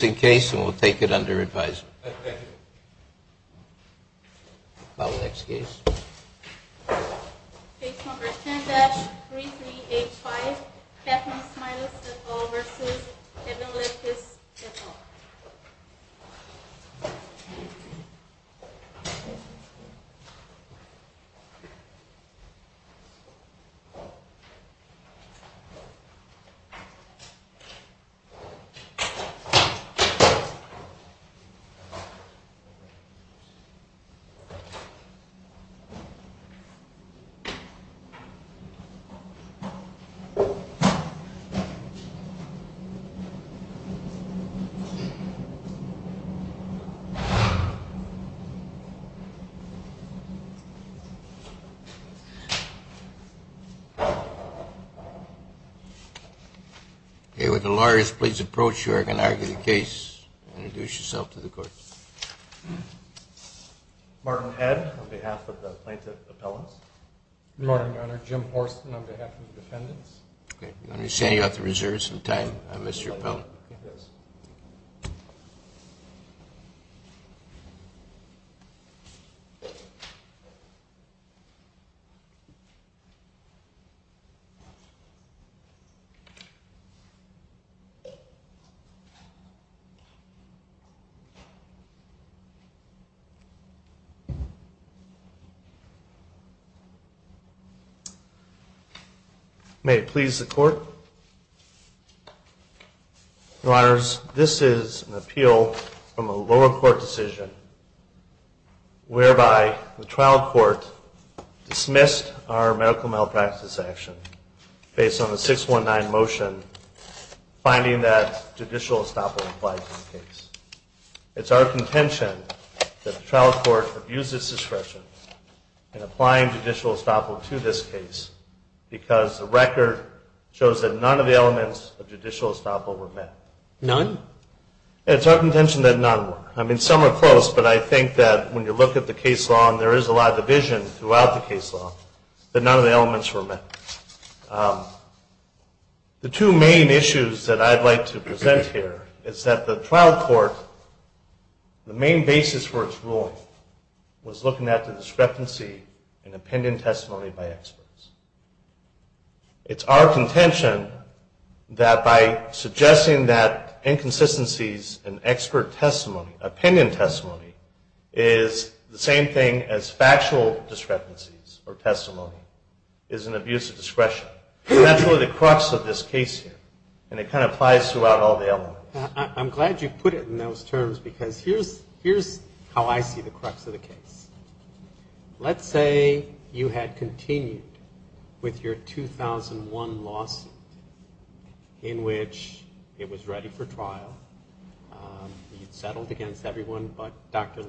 case and we'll take it under advisory. Okay, would the lawyers please approach so that I can argue the case. Introduce yourself to the court. Martin Head on behalf of the plaintiff's appellants. Good morning, Your Honor. Jim Horsten on behalf of the defendants. I'm going to be sending out the reserves in time. I miss your appellant. Thank you, Your Honor. Your Honors, this is an appeal from a lower court decision whereby the trial court dismissed our medical malpractice action based on the 619 motion finding that judicial estoppel applied to the case. It's our contention that the trial court abused its discretion in applying judicial estoppel to this case because the record shows that none of the elements of judicial estoppel were met. None? It's our contention that none were. I mean, some are close, but I think that when you look at the case law and there is a lot of division throughout the case law, that none of the elements were met. The two main issues that I'd like to present here is that the trial court, the main basis for its ruling was looking at the discrepancy in opinion testimony by experts. It's our contention that by suggesting that inconsistencies in expert testimony, opinion testimony, is the same thing as factual discrepancies or testimony, is an abuse of discretion. That's really the crux of this case here, and it kind of applies throughout all the elements. I'm glad you put it in those terms because here's how I see the crux of the case. Let's say you had continued with your 2001 lawsuit in which it was ready for trial. You'd settled against everyone but Dr.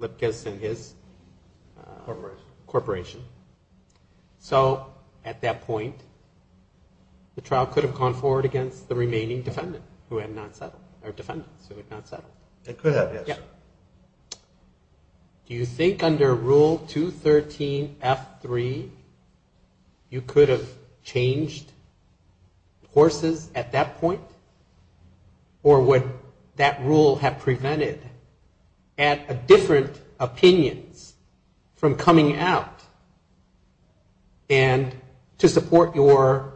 Lipkis and his corporation. So at that point, the trial could have gone forward against the remaining defendant who had not settled, or defendants who had not settled. It could have, yes. But do you think under Rule 213F3, you could have changed courses at that point? Or would that rule have prevented different opinions from coming out and to support your,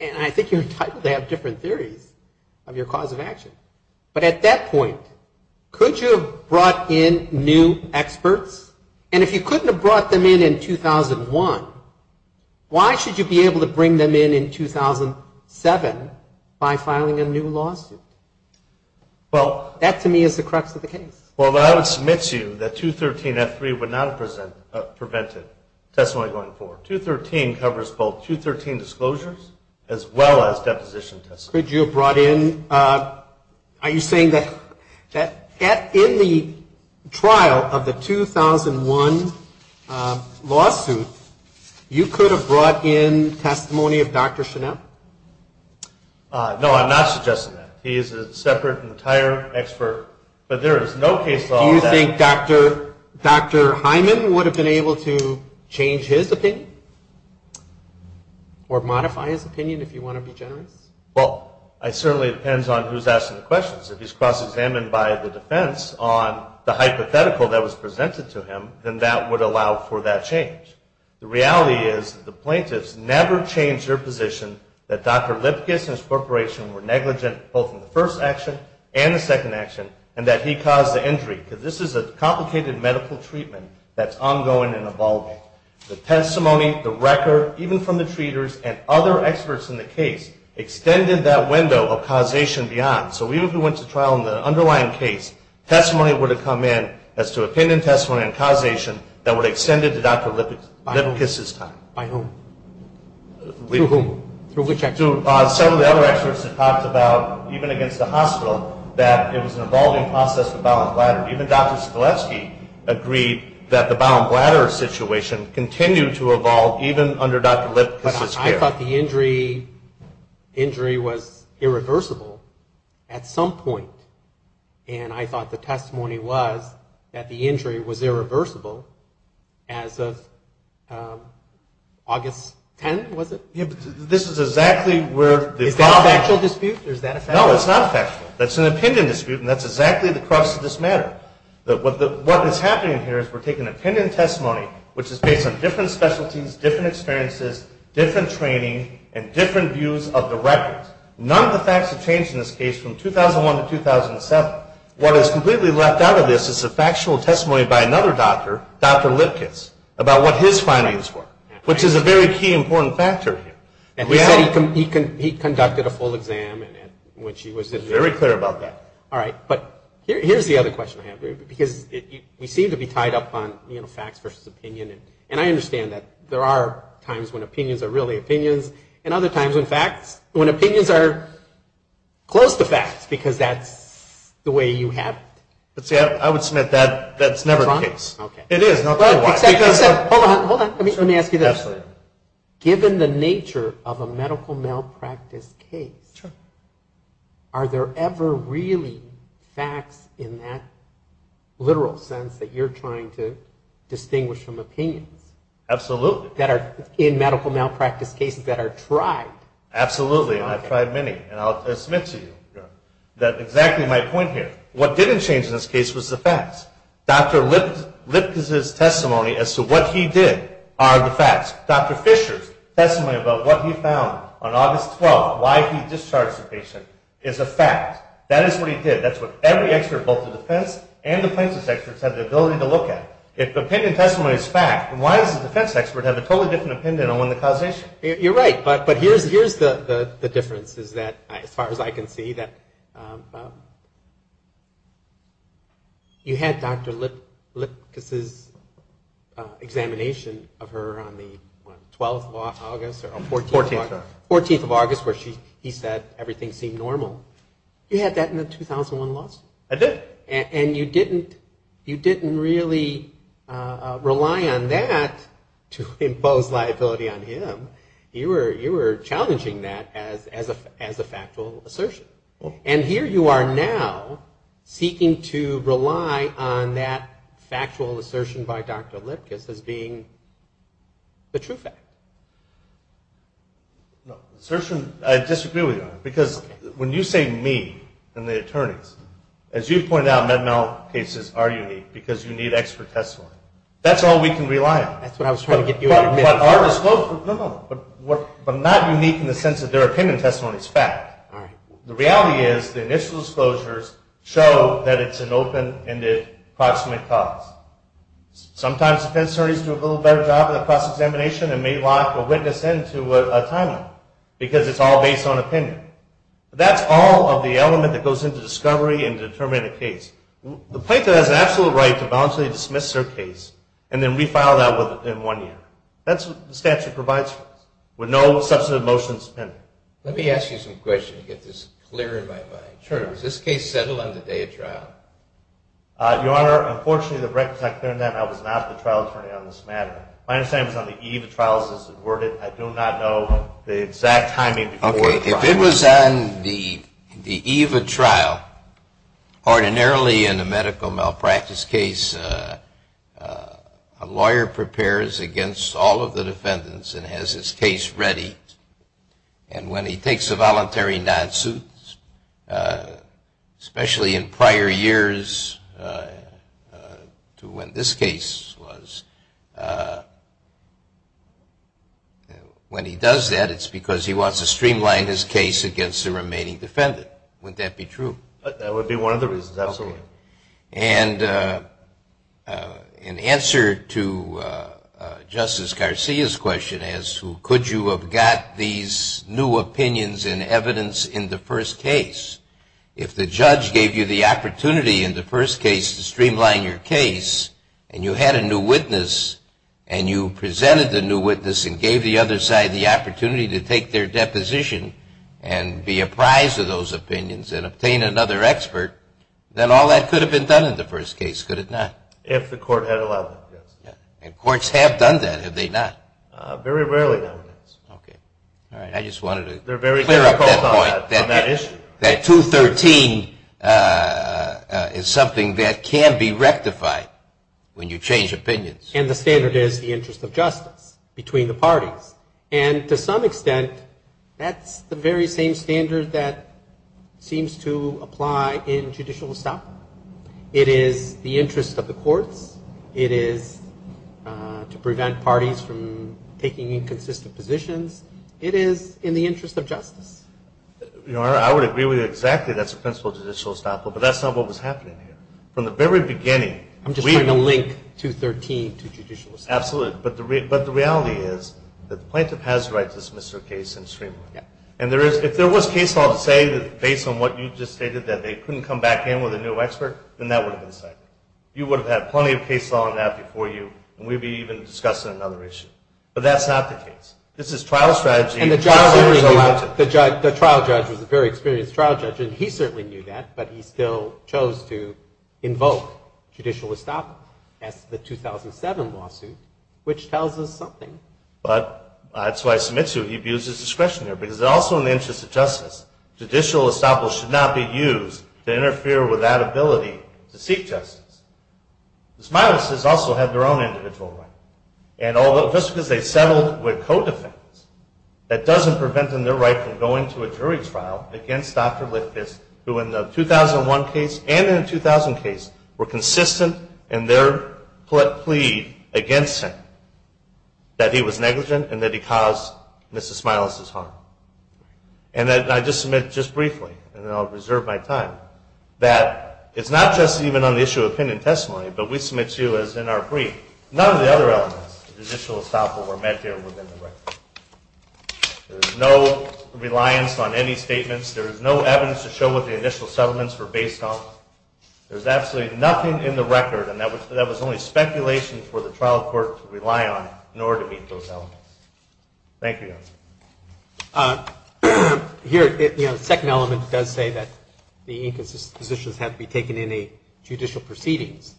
and I think you're entitled to have different theories of your cause of action. But at that point, could you have brought in new experts? And if you couldn't have brought them in in 2001, why should you be able to bring them in in 2007 by filing a new lawsuit? That to me is the crux of the case. Well, I would submit to you that 213F3 would not have prevented testimony going forward. Rule 213 covers both 213 disclosures as well as deposition testimony. Could you have brought in, are you saying that in the trial of the 2001 lawsuit, you could have brought in testimony of Dr. Chanel? No, I'm not suggesting that. He is a separate entire expert. Do you think Dr. Hyman would have been able to change his opinion? Or modify his opinion if you want to be generous? Well, it certainly depends on who's asking the questions. If he's cross-examined by the defense on the hypothetical that was presented to him, then that would allow for that change. The reality is that the plaintiffs never changed their position that Dr. Lipkis and his corporation were negligent both in the first action and the second action, and that he caused the injury, because this is a complicated medical treatment that's ongoing and evolving. The testimony, the record, even from the treaters and other experts in the case, extended that window of causation beyond. So even if we went to trial in the underlying case, testimony would have come in as to opinion testimony and causation that would have extended to Dr. Lipkis. By whom? Some of the other experts have talked about, even against the hospital, that it was an evolving process for bowel and bladder. Even Dr. Skalewski agreed that the bowel and bladder situation continued to evolve even under Dr. Lipkis' care. But I thought the injury was irreversible at some point. And I thought the testimony was that the injury was irreversible as of August 10, was it? Yeah, but this is exactly where the problem... Is that a factual dispute, or is that a factual? No, it's not factual. That's an opinion dispute, and that's exactly the crux of this matter. What is happening here is we're taking opinion testimony, which is based on different specialties, different experiences, different training, and different views of the records. None of the facts have changed in this case from 2001 to 2007. What is completely left out of this is the factual testimony by another doctor, Dr. Lipkis, about what his findings were, which is a very key, important factor here. And he said he conducted a full exam in which he was... Very clear about that. All right, but here's the other question I have for you, because we seem to be tied up on facts versus opinion. And I understand that there are times when opinions are really opinions, and other times when facts... When opinions are close to facts, because that's the way you have it. I would submit that's never the case. It is, no matter what. Hold on, hold on. Let me ask you this. Given the nature of a medical malpractice case, are there ever really facts in that literal sense that you're trying to distinguish from opinion? Absolutely. In medical malpractice cases that are tried. Absolutely, and I've tried many, and I'll submit to you that exactly my point here. What didn't change in this case was the facts. Dr. Lipkis' testimony as to what he did are the facts. Dr. Fisher's testimony about what he found on August 12th, why he discharged the patient, is a fact. That is what he did. That's what every expert, both the defense and the plaintiff's experts, have the ability to look at. If the opinion testimony is fact, then why does the defense expert have a totally different opinion on when the causation? You're right, but here's the difference, as far as I can see. You had Dr. Lipkis' examination of her on the 12th of August, or 14th of August, where he said everything seemed normal. You had that in the 2001 lawsuit. I did. And you didn't really rely on that to impose liability on him. You were challenging that as a factual assertion. And here you are now seeking to rely on that factual assertion by Dr. Lipkis as being the true fact. I disagree with you on that. Because when you say me and the attorneys, as you pointed out, mental health cases are unique because you need expert testimony. That's all we can rely on. But not unique in the sense that their opinion testimony is fact. The reality is the initial disclosures show that it's an open-ended, approximate cause. Sometimes defense attorneys do a little better job of the cross-examination and may lock a witness in to a timeline, because it's all based on opinion. That's all of the element that goes into discovery and determining a case. The plaintiff has an absolute right to voluntarily dismiss her case and then refile that in one year. That's what the statute provides for us. With no substantive motions pending. Let me ask you some questions to get this clear in my mind. Your Honor, unfortunately, the record says I was not the trial attorney on this matter. My understanding is on the eve of trial, as it's worded. I do not know the exact timing before the trial. If it was on the eve of trial, ordinarily in a medical malpractice case, a lawyer prepares against all of the defendants and has his case ready. And when he takes a voluntary non-suit, especially in prior years to when this case was... When he does that, it's because he wants to streamline his case against the remaining defendant. Wouldn't that be true? That would be one of the reasons, absolutely. And in answer to Justice Garcia's question as to could you have got these new opinions and evidence in the first case, and you had a new witness, and you presented the new witness and gave the other side the opportunity to take their deposition and be apprised of those opinions and obtain another expert, then all that could have been done in the first case, could it not? If the court had allowed it, yes. And courts have done that, have they not? Very rarely, Your Honor. I just wanted to clear up that point. That 213 is something that can be rectified when you change opinions. And the standard is the interest of justice between the parties. And to some extent, that's the very same standard that seems to apply in judicial establishment. It is the interest of the courts, it is to prevent parties from taking inconsistent positions, it is in the interest of justice. Your Honor, I would agree with you exactly. That's the principle of judicial establishment. But that's not what was happening here. From the very beginning... I'm just trying to link 213 to judicial establishment. Absolutely. But the reality is that the plaintiff has the right to dismiss her case in the Supreme Court. And if there was case law to say that based on what you just stated that they couldn't come back in with a new expert, then that would have been cited. You would have had plenty of case law on that before you, and we'd be even discussing another issue. But that's not the case. This is trial strategy... And the trial judge was a very experienced trial judge, and he certainly knew that, but he still chose to invoke judicial establishment as the 2007 lawsuit, which tells us something. But that's why I submit to you he abuses discretion there, because also in the interest of justice, judicial establishment should not be used to interfere with that ability to seek justice. Ms. Milas has also had their own individual rights. And just because they settled with co-defendants, that doesn't prevent them their right from going to a jury trial against Dr. Liffis, who in the 2001 case and in the 2000 case were consistent in their plea against him, that he was negligent and that he caused Ms. Milas's harm. And I just submit just briefly, and then I'll reserve my time, that it's not just even on the issue of opinion testimony, but we submit to you as in our brief, none of the other elements of judicial establishment were met here within the record. There is no reliance on any statements. There is no evidence to show what the initial settlements were based on. There's absolutely nothing in the record, and that was only speculation for the trial court to rely on in order to meet those elements. Thank you, Your Honor. Here, the second element does say that the inconsistent positions have to be taken in a judicial proceedings.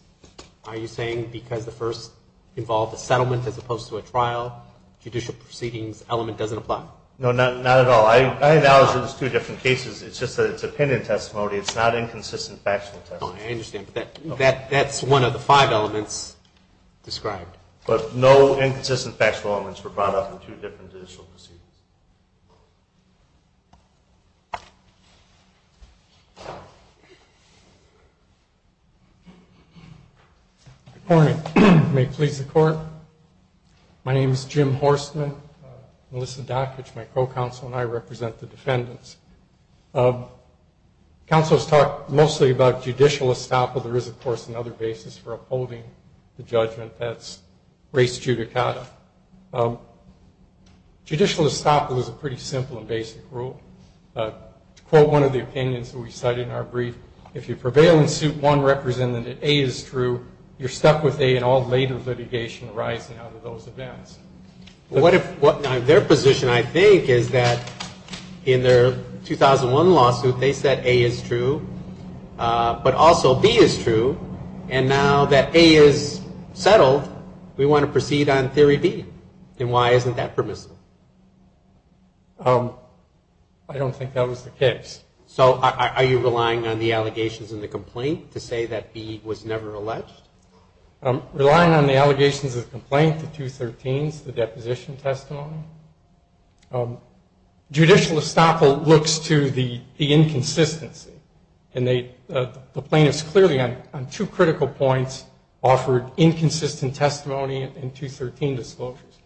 Are you saying because the first involved a settlement as opposed to a trial, judicial proceedings element doesn't apply? No, not at all. I acknowledge there's two different cases. It's just that it's opinion testimony. It's not inconsistent factual testimony. I understand, but that's one of the five elements described. But no inconsistent factual elements were brought up in two different judicial proceedings. Good morning. May it please the Court. My name is Jim Horstman. Melissa Dockage, my co-counsel, and I represent the defendants. Counsel has talked mostly about judicial estoppel. There is, of course, another basis for upholding the judgment. That's res judicata. Judicial estoppel is a pretty simple and basic rule. To quote one of the opinions that we cited in our brief, if you prevail in suit one represented that A is true, you're stuck with A in all later litigation arising out of those events. Their position, I think, is that in their 2001 lawsuit, they said A is true, but also B is true. And now that A is settled, we want to proceed on theory B. And why isn't that permissible? I don't think that was the case. So are you relying on the allegations in the complaint to say that B was never alleged? I'm relying on the allegations of the complaint, the 213s, the deposition testimony. Judicial estoppel looks to the inconsistency. And the plaintiffs clearly on two critical points offered inconsistent testimony and 213 disclosures.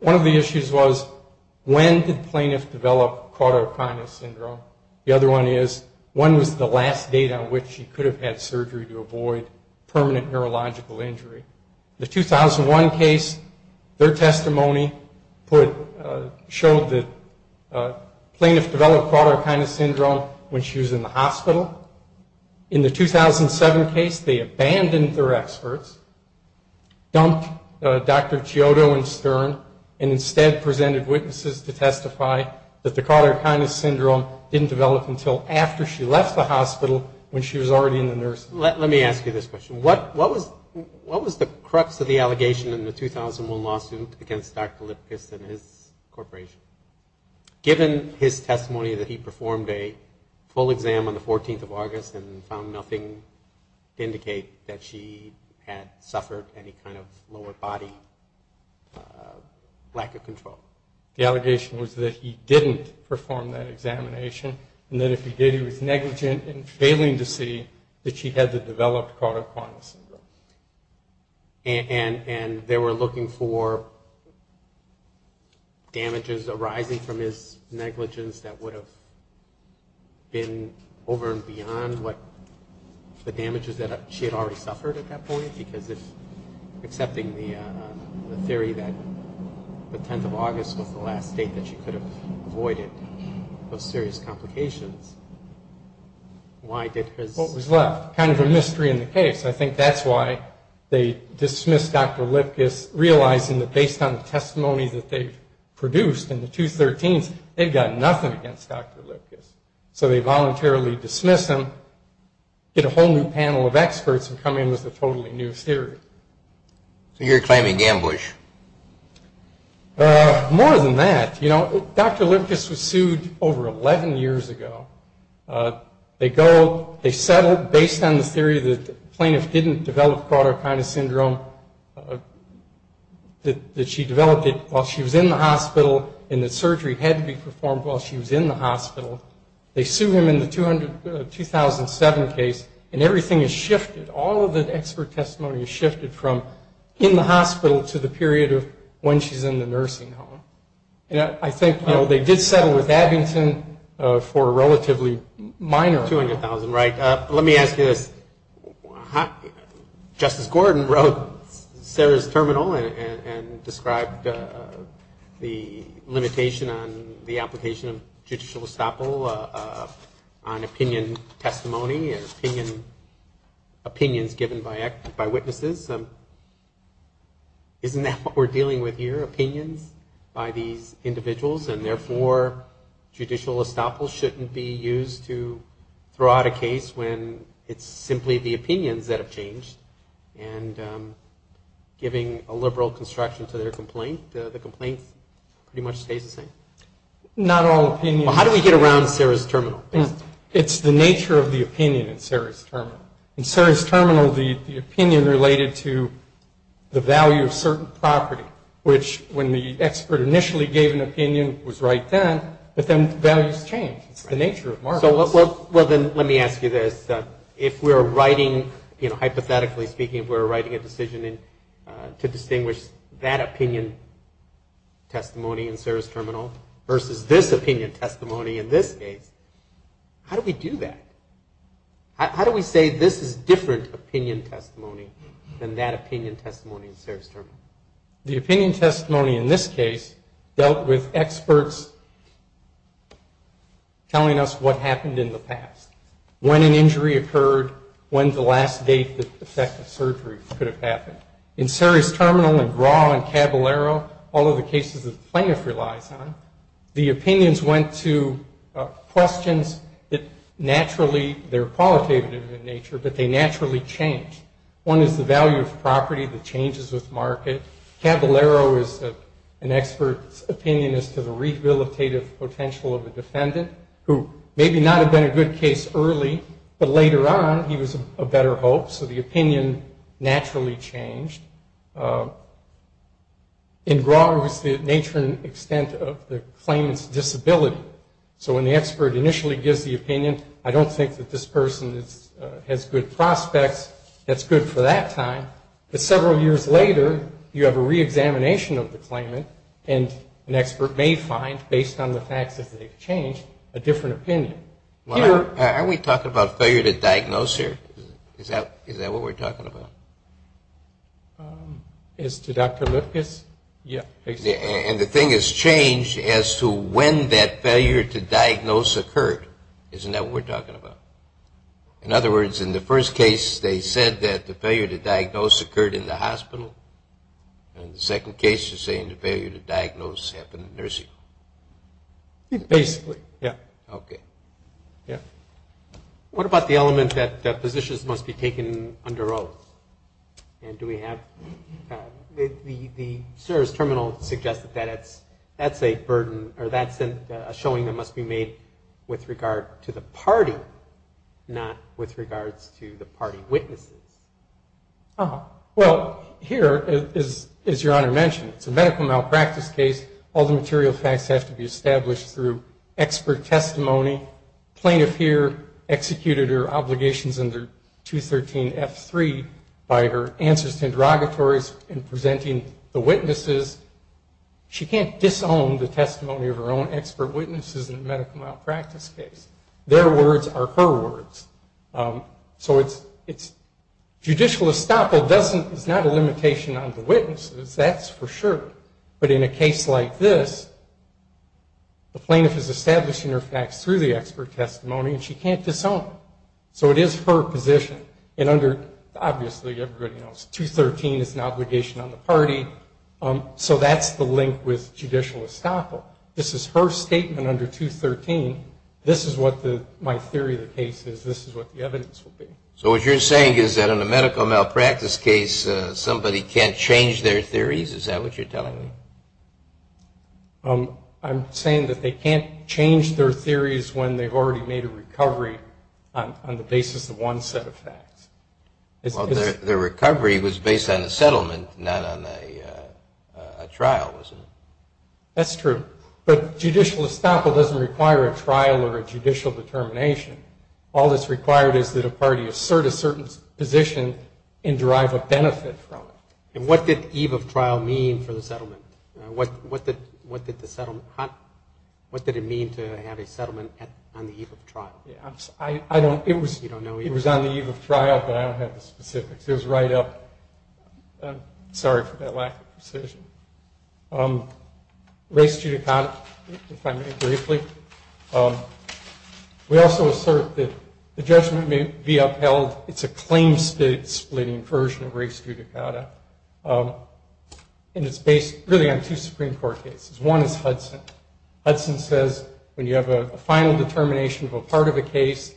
One of the issues was, when did the plaintiff develop caudal sinus syndrome? The other one is, when was the last date on which she could have had surgery to avoid permanent neurological injury? The 2001 case, their testimony showed that the plaintiff developed caudal sinus syndrome when she was in the hospital. In the 2007 case, they abandoned their experts, dumped Dr. Chiodo and Stern, and instead presented witnesses to testify that the caudal sinus syndrome didn't develop until after she left the hospital when she was already in the nursing home. Let me ask you this question. What was the crux of the allegation in the 2001 lawsuit against Dr. Lipkis and his corporation? Given his testimony that he performed a full exam on the 14th of May, did he indicate that she had suffered any kind of lower body lack of control? The allegation was that he didn't perform that examination, and that if he did, he was negligent in failing to see that she had the developed caudal sinus syndrome. And they were looking for damages arising from his negligence that would have been over and over again. I think that's why they dismissed Dr. Lipkis, realizing that based on the testimony that they've produced in the 2013s, they've got nothing against Dr. Lipkis. So they voluntarily dismiss him, get a whole new panel of then they go back to the court. of experts and come in with a totally new theory. So you're claiming ambush? More than that. Dr. Lipkis was sued over 11 years ago. They settled based on the theory that the plaintiff didn't develop caudal sinus syndrome, that she developed it while she was in the hospital, and that surgery had to be performed while she was in the hospital. They sued him in the 2007 case, and everything has shifted. All of the expert testimony has shifted from in the hospital to the period of when she's in the nursing home. I think they did settle with Abington for a relatively minor amount. Let me ask you this. Justice Gordon wrote Sarah's terminal and described the limitation on the application of judicial estoppel on opinion testimony and opinions given by witnesses. Isn't that what we're dealing with here? Opinions by these individuals? And therefore, judicial estoppel shouldn't be used to throw out a case when it's simply the opinions that have changed. And giving a liberal construction to their complaint, the complaint pretty much stays the same. How do we get around Sarah's terminal? It's the nature of the opinion in Sarah's terminal. In Sarah's terminal, the opinion related to the value of certain property, which when the expert initially gave an opinion was right then, but then values change. It's the nature of markets. Let me ask you this. If we're writing, hypothetically speaking, if we're writing a decision to distinguish that opinion testimony in Sarah's terminal versus this opinion testimony in this case, how do we do that? How do we say this is different opinion testimony than that opinion testimony in Sarah's terminal? The opinion testimony in this case dealt with experts telling us what happened in the past. When an injury occurred, when the last case of the plaintiff relies on, the opinions went to questions that naturally are qualitative in nature, but they naturally change. One is the value of property, the changes with market. Caballero is an expert's opinion as to the rehabilitative potential of a defendant who maybe not have been a good case early, but later on he was a better hope, so the opinion naturally changed. In Grawler, it was the nature and extent of the claimant's disability. So when the expert initially gives the opinion, I don't think that this person has good prospects. That's good for that time, but several years later, you have a reexamination of the claimant, and an expert may find, based on the facts that they've changed, a different opinion. Are we talking about failure to diagnose here? Is that what we're talking about? As to Dr. Litkus? Yeah. And the thing has changed as to when that failure to diagnose occurred. Isn't that what we're talking about? In other words, in the first case, they said that the failure to diagnose occurred in the hospital, and in the second case, you're saying the failure to diagnose happened in the nursing home. Basically, yeah. Okay. Yeah. What about the element that physicians must be taken under oath? And do we have the service terminal suggested that that's a burden, or that's a showing that must be made with regard to the party, not with regards to the party witnesses? Well, here, as Your Honor mentioned, it's a medical malpractice case. All the material facts have to be established through expert testimony, plaintiff here executed her obligations under 213 F3 by her answers to interrogatories and presenting the witnesses. She can't disown the testimony of her own expert witnesses in a medical malpractice case. Their words are her words. So it's judicial estoppel is not a limitation on the witnesses, that's for sure. But in a case like this, the plaintiff is establishing her facts through the expert testimony, and she can't disown it. So it is her position. And under, obviously everybody knows, 213 is an obligation on the party. So that's the link with judicial estoppel. This is her statement under 213. This is what my theory of the case is. This is what the evidence will be. So what you're saying is that in a medical malpractice case, somebody can't change their theories? Is that what you're telling me? I'm saying that they can't change their theories when they've already made a recovery on the basis of one set of facts. Well, their recovery was based on a settlement, not on a trial, wasn't it? That's true. But judicial estoppel doesn't require a trial or a judicial determination. All that's required is that a party assert a certain position and derive a benefit What did it mean to have a settlement on the eve of trial? It was on the eve of trial, but I don't have the specifics. It was right up I'm sorry for that lack of precision. Race judicata, if I may briefly. We also assert that the judgment may be upheld it's a claim splitting version of race judicata. And it's based really on two Supreme Court cases. One is Hudson. Hudson says when you have a final determination of a part of a case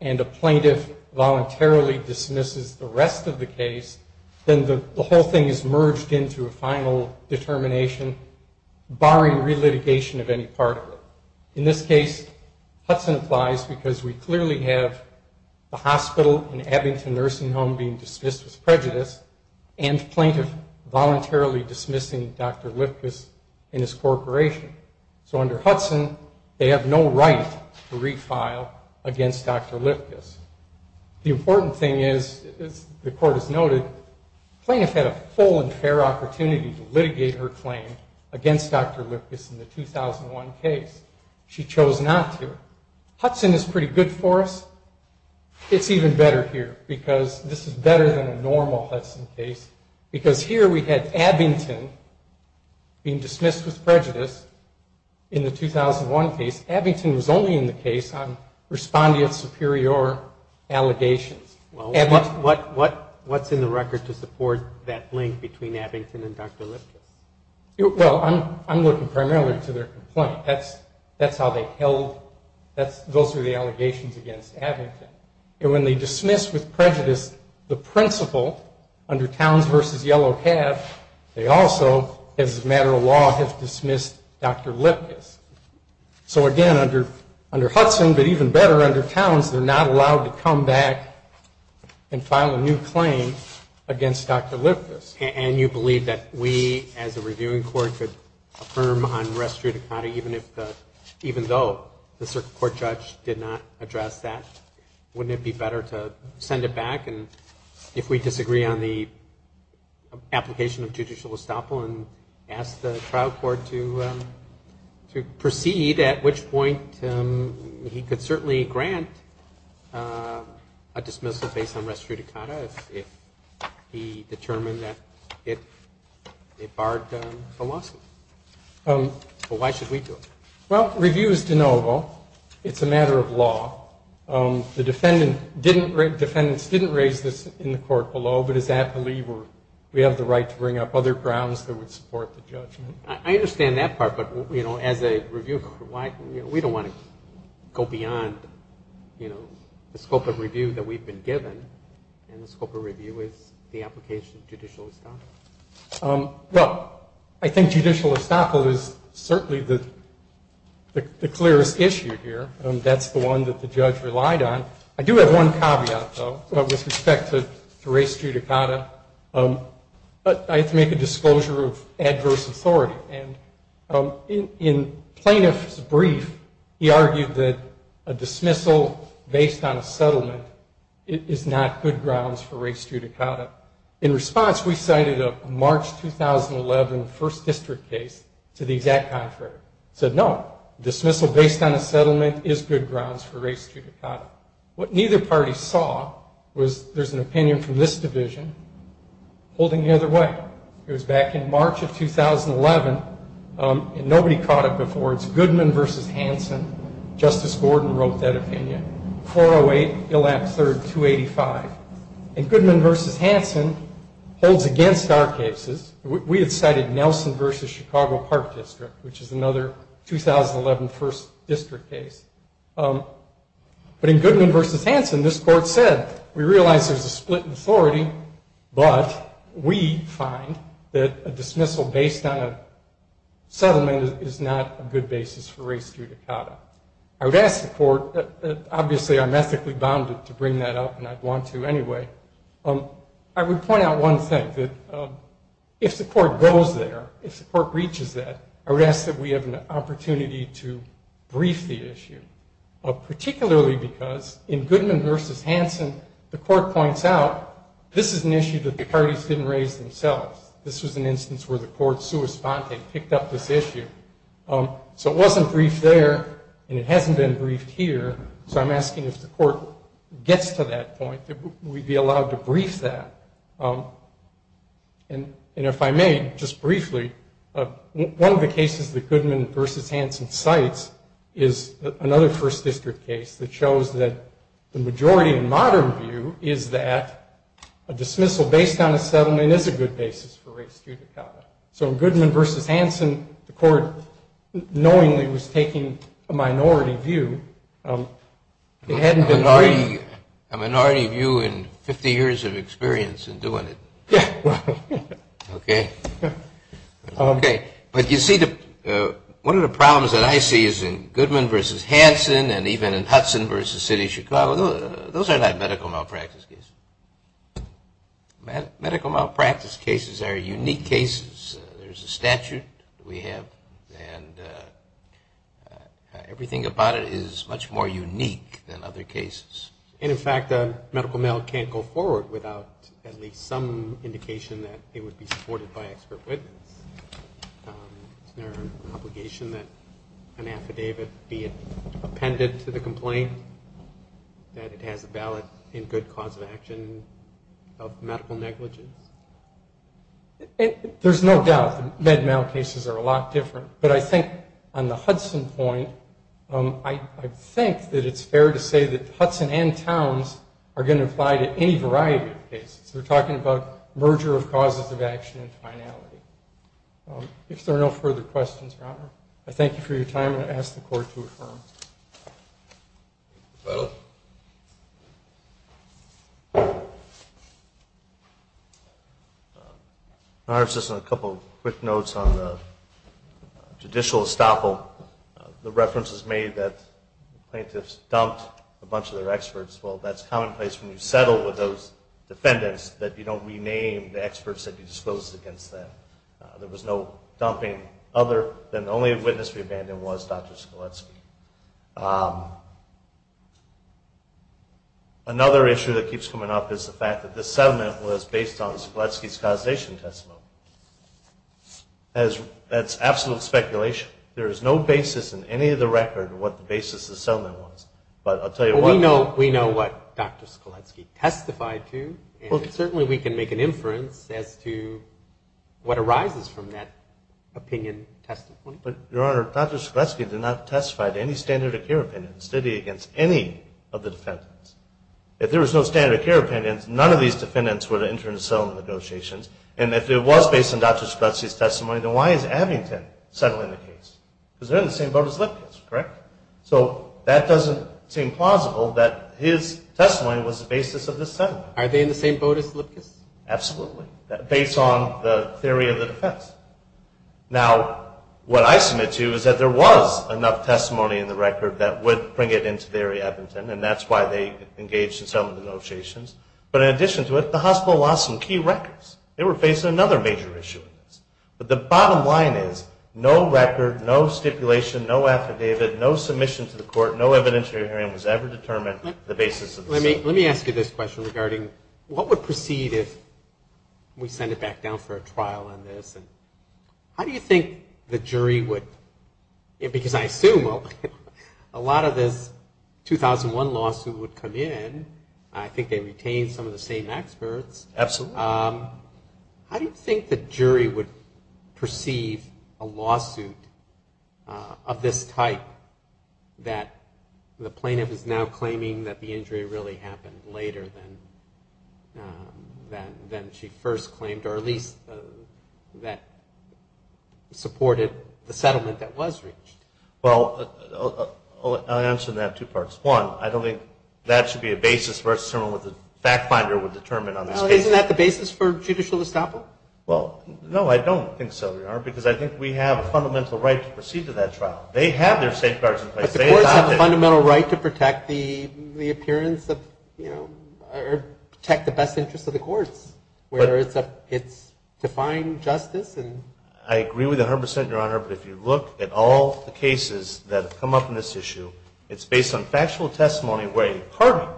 and a plaintiff voluntarily dismisses the rest of the case, then the whole thing is merged into a final determination barring relitigation of any part of it. In this case, Hudson applies because we clearly have a hospital, an Abington nursing home being and plaintiff voluntarily dismissing Dr. Lifkus in his corporation. So under Hudson, they have no right to refile against Dr. Lifkus. The important thing is, as the court has noted, plaintiff had a full and fair opportunity to litigate her claim against Dr. Lifkus in the 2001 case. She chose not to. Hudson is pretty good for us. It's even better here because this is because here we had Abington being dismissed with prejudice in the 2001 case. Abington was only in the case on respondeat superior allegations. What's in the record to support that link between Abington and Dr. Lifkus? Well, I'm looking primarily to their complaint. That's how they held, those are the allegations against Abington. And when they dismiss with prejudice the principal under Towns v. Yellow Cab, they also, as a matter of law, have dismissed Dr. Lifkus. So again, under Hudson, but even better, under Towns, they're not allowed to come back and file a new claim against Dr. Lifkus. And you believe that we as a reviewing court could affirm on res judicata even though the circuit court judge did not address that? Wouldn't it be better to send it back if we disagree on the application of judicial estoppel and ask the trial court to proceed, at which point he could certainly grant a dismissal based on res judicata if he determined that it barred a lawsuit. But why should we do it? Well, review is de novo. It's a matter of judicial estoppel. I understand that part, but as a review court, we don't want to go beyond the scope of review that we've been given. And the scope of review is the application of judicial estoppel. Well, I think judicial estoppel is certainly the clearest issue here. That's the one that the judge relied on. I do have one caveat, though, with respect to res judicata. I have to make a disclosure of adverse authority. And in plaintiff's brief, he argued that a dismissal based on a settlement is not good grounds for res judicata. In response, we cited a March 2011 First District case to the exact contrary. It said, no, dismissal based on a settlement is good grounds for res judicata. What neither party saw was there's an opinion from this division holding the other way. It was back in March of 2011, and nobody caught it before. It's Goodman v. Hanson. Justice Gordon wrote that opinion. 408, Gillap, III, 285. And Goodman v. Hanson holds against our cases. We had cited Nelson v. Chicago Park District, which is another 2011 First District case. But in Goodman v. Hanson, this court said, we realize there's a split in authority, but we find that a dismissal based on a settlement is not a good basis for res judicata. I would ask the court, obviously I'm ethically bounded to bring that up and I'd want to anyway. I would point out one thing, that if the court goes there, if the court breaches that, I would ask that we have an opportunity to brief the issue. Particularly because in Goodman v. Hanson, the court points out, this is an issue that the parties didn't raise themselves. This was an instance where the court sua sponte, picked up this issue. So it wasn't briefed there, and it hasn't been briefed here, so I'm asking if the court gets to that point, that we be allowed to brief that. And if I may, just briefly, one of the cases that Goodman v. Hanson cites is another First District case that shows that the majority in modern view is that a dismissal based on a settlement is a good basis for res judicata. So in Goodman v. Hanson, the court knowingly was taking a minority view. It hadn't been briefed. A minority view and 50 years of experience in doing it. Okay. But you see, one of the problems that I see is in Goodman v. Hanson and even in Hudson v. City of Chicago, those are not medical malpractice cases. Medical malpractice cases are unique cases. There's a statute that we have, and everything about it is much more unique than other cases. And in fact, medical mail can't go forward without at least some indication that it would be supported by expert witness. Isn't there an obligation that an affidavit be appended to the complaint that it has a ballot in good cause of action of medical negligence? There's no doubt that med mail cases are a lot different. But I think on the Hudson point, I think that it's fair to say that Hudson and Towns are going to apply to any variety of cases. We're talking about merger of causes of action and finality. If there are no further questions, Your Honor, I thank you for your time and ask the court to affirm. Petal? Your Honor, just a couple quick notes on the judicial estoppel. The reference is made that plaintiffs dumped a bunch of their experts. Well, that's commonplace when you settle with those defendants that you don't rename the experts that you disclosed against them. There was no dumping other than the only witness we abandoned was Dr. Skaletsky. Another issue that keeps coming up is the fact that this settlement was based on Skaletsky's causation testimony. That's absolute speculation. There is no basis in any of the record of what the basis of the settlement was. We know what Dr. Skaletsky testified to and certainly we can make an inference as to what arises from that opinion testimony. Your Honor, Dr. Skaletsky did not testify to any standard of care opinions, did he, against any of the defendants. If there was no standard of care opinions, none of these defendants would have entered into settlement negotiations. And if it was based on Dr. Skaletsky's testimony, then why is Abington settling the case? Because they're in the same boat as Lipkis, correct? So that doesn't seem plausible that his testimony was the basis of this settlement. Are they in the same boat as Lipkis? Absolutely. Based on the theory of the defense. Now, what I submit to is that there was enough testimony in the record that would bring it into theory, Abington, and that's why they engaged in settlement negotiations. But in addition to it, the hospital lost some key records. They were facing another major issue with this. But the bottom line is, no record, no stipulation, no affidavit, no submission to the court, no evidentiary hearing was ever determined the basis of the settlement. Let me ask you this question regarding what would proceed if we send it back down for a trial on this. How do you think the jury would, because I assume a lot of this 2001 lawsuit would come in. I think they retained some of the same experts. Absolutely. How do you think the jury would perceive a lawsuit of this type that the plaintiff is now claiming that the injury really happened later than she first claimed, or at least that supported the settlement that was reached? Well, I'll answer that in two parts. One, I don't think that should be a basis for us to determine what the fact finder would determine on this case. Isn't that the basis for judicial estoppel? Well, no, I don't think so, Your Honor, because I think we have a fundamental right to proceed to that trial. They have their safeguards in place. But the courts have a fundamental right to protect the appearance of or protect the best interest of the courts, whether it's to find justice. I agree with you 100%, Your Honor, but if you look at all the cases that have come up in this issue, it's based on factual testimony where Harvey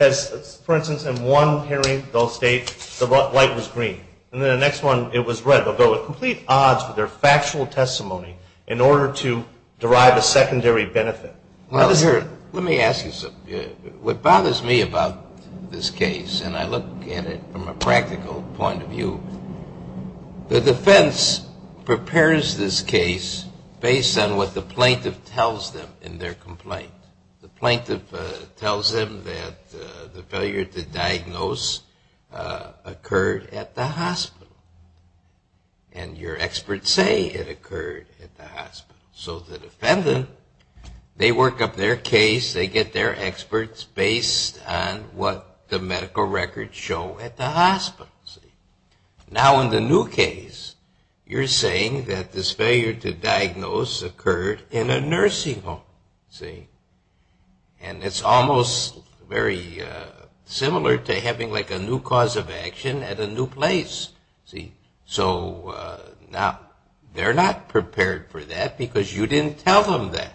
has for instance, in one hearing, they'll state the light was green. And then the next one, it was red. But there were complete odds for their factual testimony in order to derive a secondary benefit. Let me ask you something. What bothers me about this case, and I look at it from a practical point of view, the defense prepares this case based on what the plaintiff tells them in their complaint. The plaintiff tells them that the failure to diagnose occurred at the hospital. And your experts say it occurred at the hospital. So the defendant, they work up their case, they get their experts based on what the medical records show at the hospital. Now in the new case, you're saying that this failure to diagnose occurred in a nursing home. See? And it's almost very similar to having like a new cause of action at a new place. See? So now, they're not prepared for that because you didn't tell them that.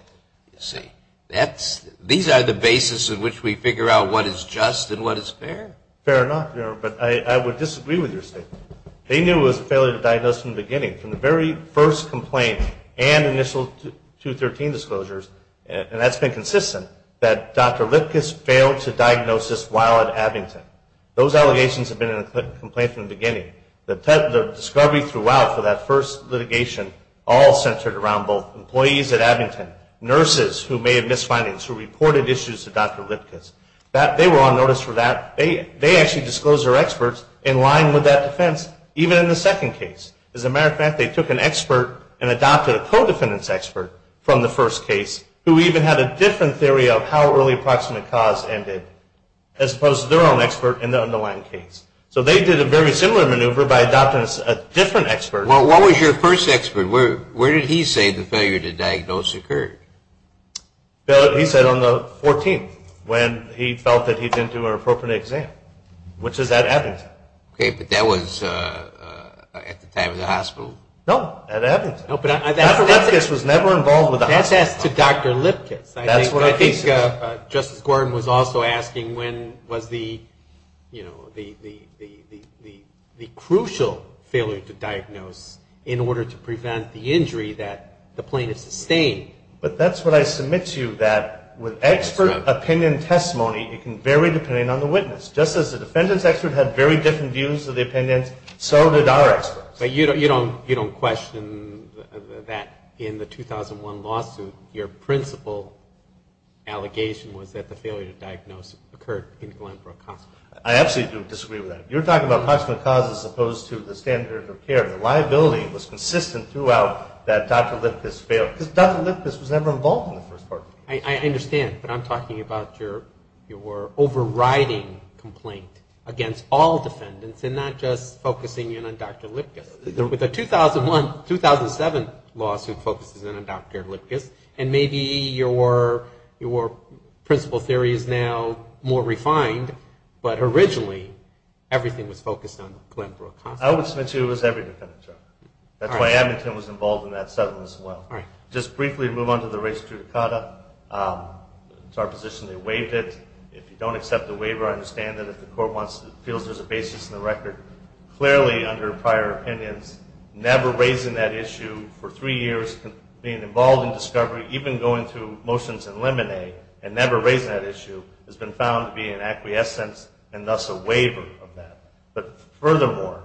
These are the basis in which we figure out what is just and what is fair. Fair or not, Your Honor, but I would disagree with your statement. They knew it was a failure to diagnose from the beginning, from the very first complaint and initial 213 disclosures, and that's been consistent, that Dr. Lipkis failed to diagnose this while at Abington. Those allegations have been in the complaint from the beginning. The discovery throughout for that first litigation all centered around both employees at Abington, nurses who made misfindings, who reported issues to Dr. Lipkis. They were on notice for that. They actually disclosed their experts in line with that defense, even in the second case. As a matter of fact, they took an expert and adopted a co-defendant's expert from the first case, who even had a different theory of how early approximate cause ended, as opposed to their own expert in the underlying case. So they did a very similar maneuver by adopting a different expert. Well, what was your first expert? Where did he say the failure to diagnose occurred? He said on the 14th, when he felt that he didn't do an appropriate exam, which is at Abington. Okay, but that was at the time you were at the hospital? No, at Abington. Dr. Lipkis was never involved with the hospital. That's asked to Dr. Lipkis. I think Justice Gordon was also asking when was the crucial failure to diagnose in order to prevent the injury that the plaintiff sustained. But that's what I submit to you, that with expert opinion testimony, it can vary depending on the witness. Just as the defendant's expert had very different views of the expert. But you don't question that in the 2001 lawsuit, your principal allegation was that the failure to diagnose occurred in the underlying cause. I absolutely do disagree with that. You're talking about approximate cause as opposed to the standard of care. The liability was consistent throughout that Dr. Lipkis failed. Because Dr. Lipkis was never involved in the first part. I understand, but I'm talking about your overriding complaint against all defendants and not just focusing in on Dr. Lipkis. The 2001-2007 lawsuit focuses in on Dr. Lipkis and maybe your principal theory is now more refined, but originally everything was focused on Glenbrook. I would submit to you it was every defendant, Chuck. That's why Abington was involved in that settlement as well. Just briefly move on to the race to Dukata. It's our position they waived it. If you don't accept the waiver, I understand that the court feels there's a basis in the record. Clearly under prior opinions, never raising that issue for three years, being involved in discovery, even going through motions in Lemonade and never raising that issue has been found to be an acquiescence and thus a waiver of that. But furthermore,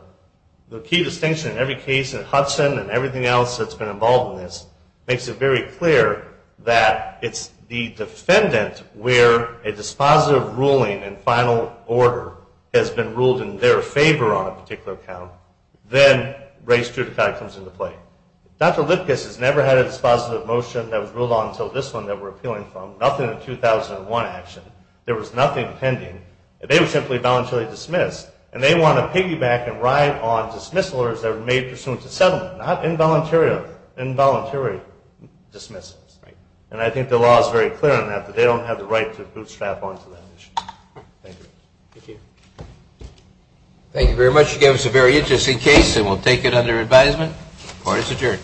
the key distinction in every case in Hudson and everything else that's been involved in this makes it very clear that it's the defendant where a dispositive ruling and final order has been ruled in their favor on a particular account, then race to Dukata comes into play. Dr. Lipkis has never had a dispositive motion that was ruled on until this one that we're appealing from. Nothing in the 2001 action. There was nothing pending. They were simply voluntarily dismissed, and they want to piggyback and ride on dismissal orders that were made pursuant to settlement, not involuntary dismissals. And I think the law is very clear on that, that they don't have the right to bootstrap onto that issue. Thank you. Thank you very much. You gave us a very interesting case and we'll take it under advisement. Court is adjourned. Thank you.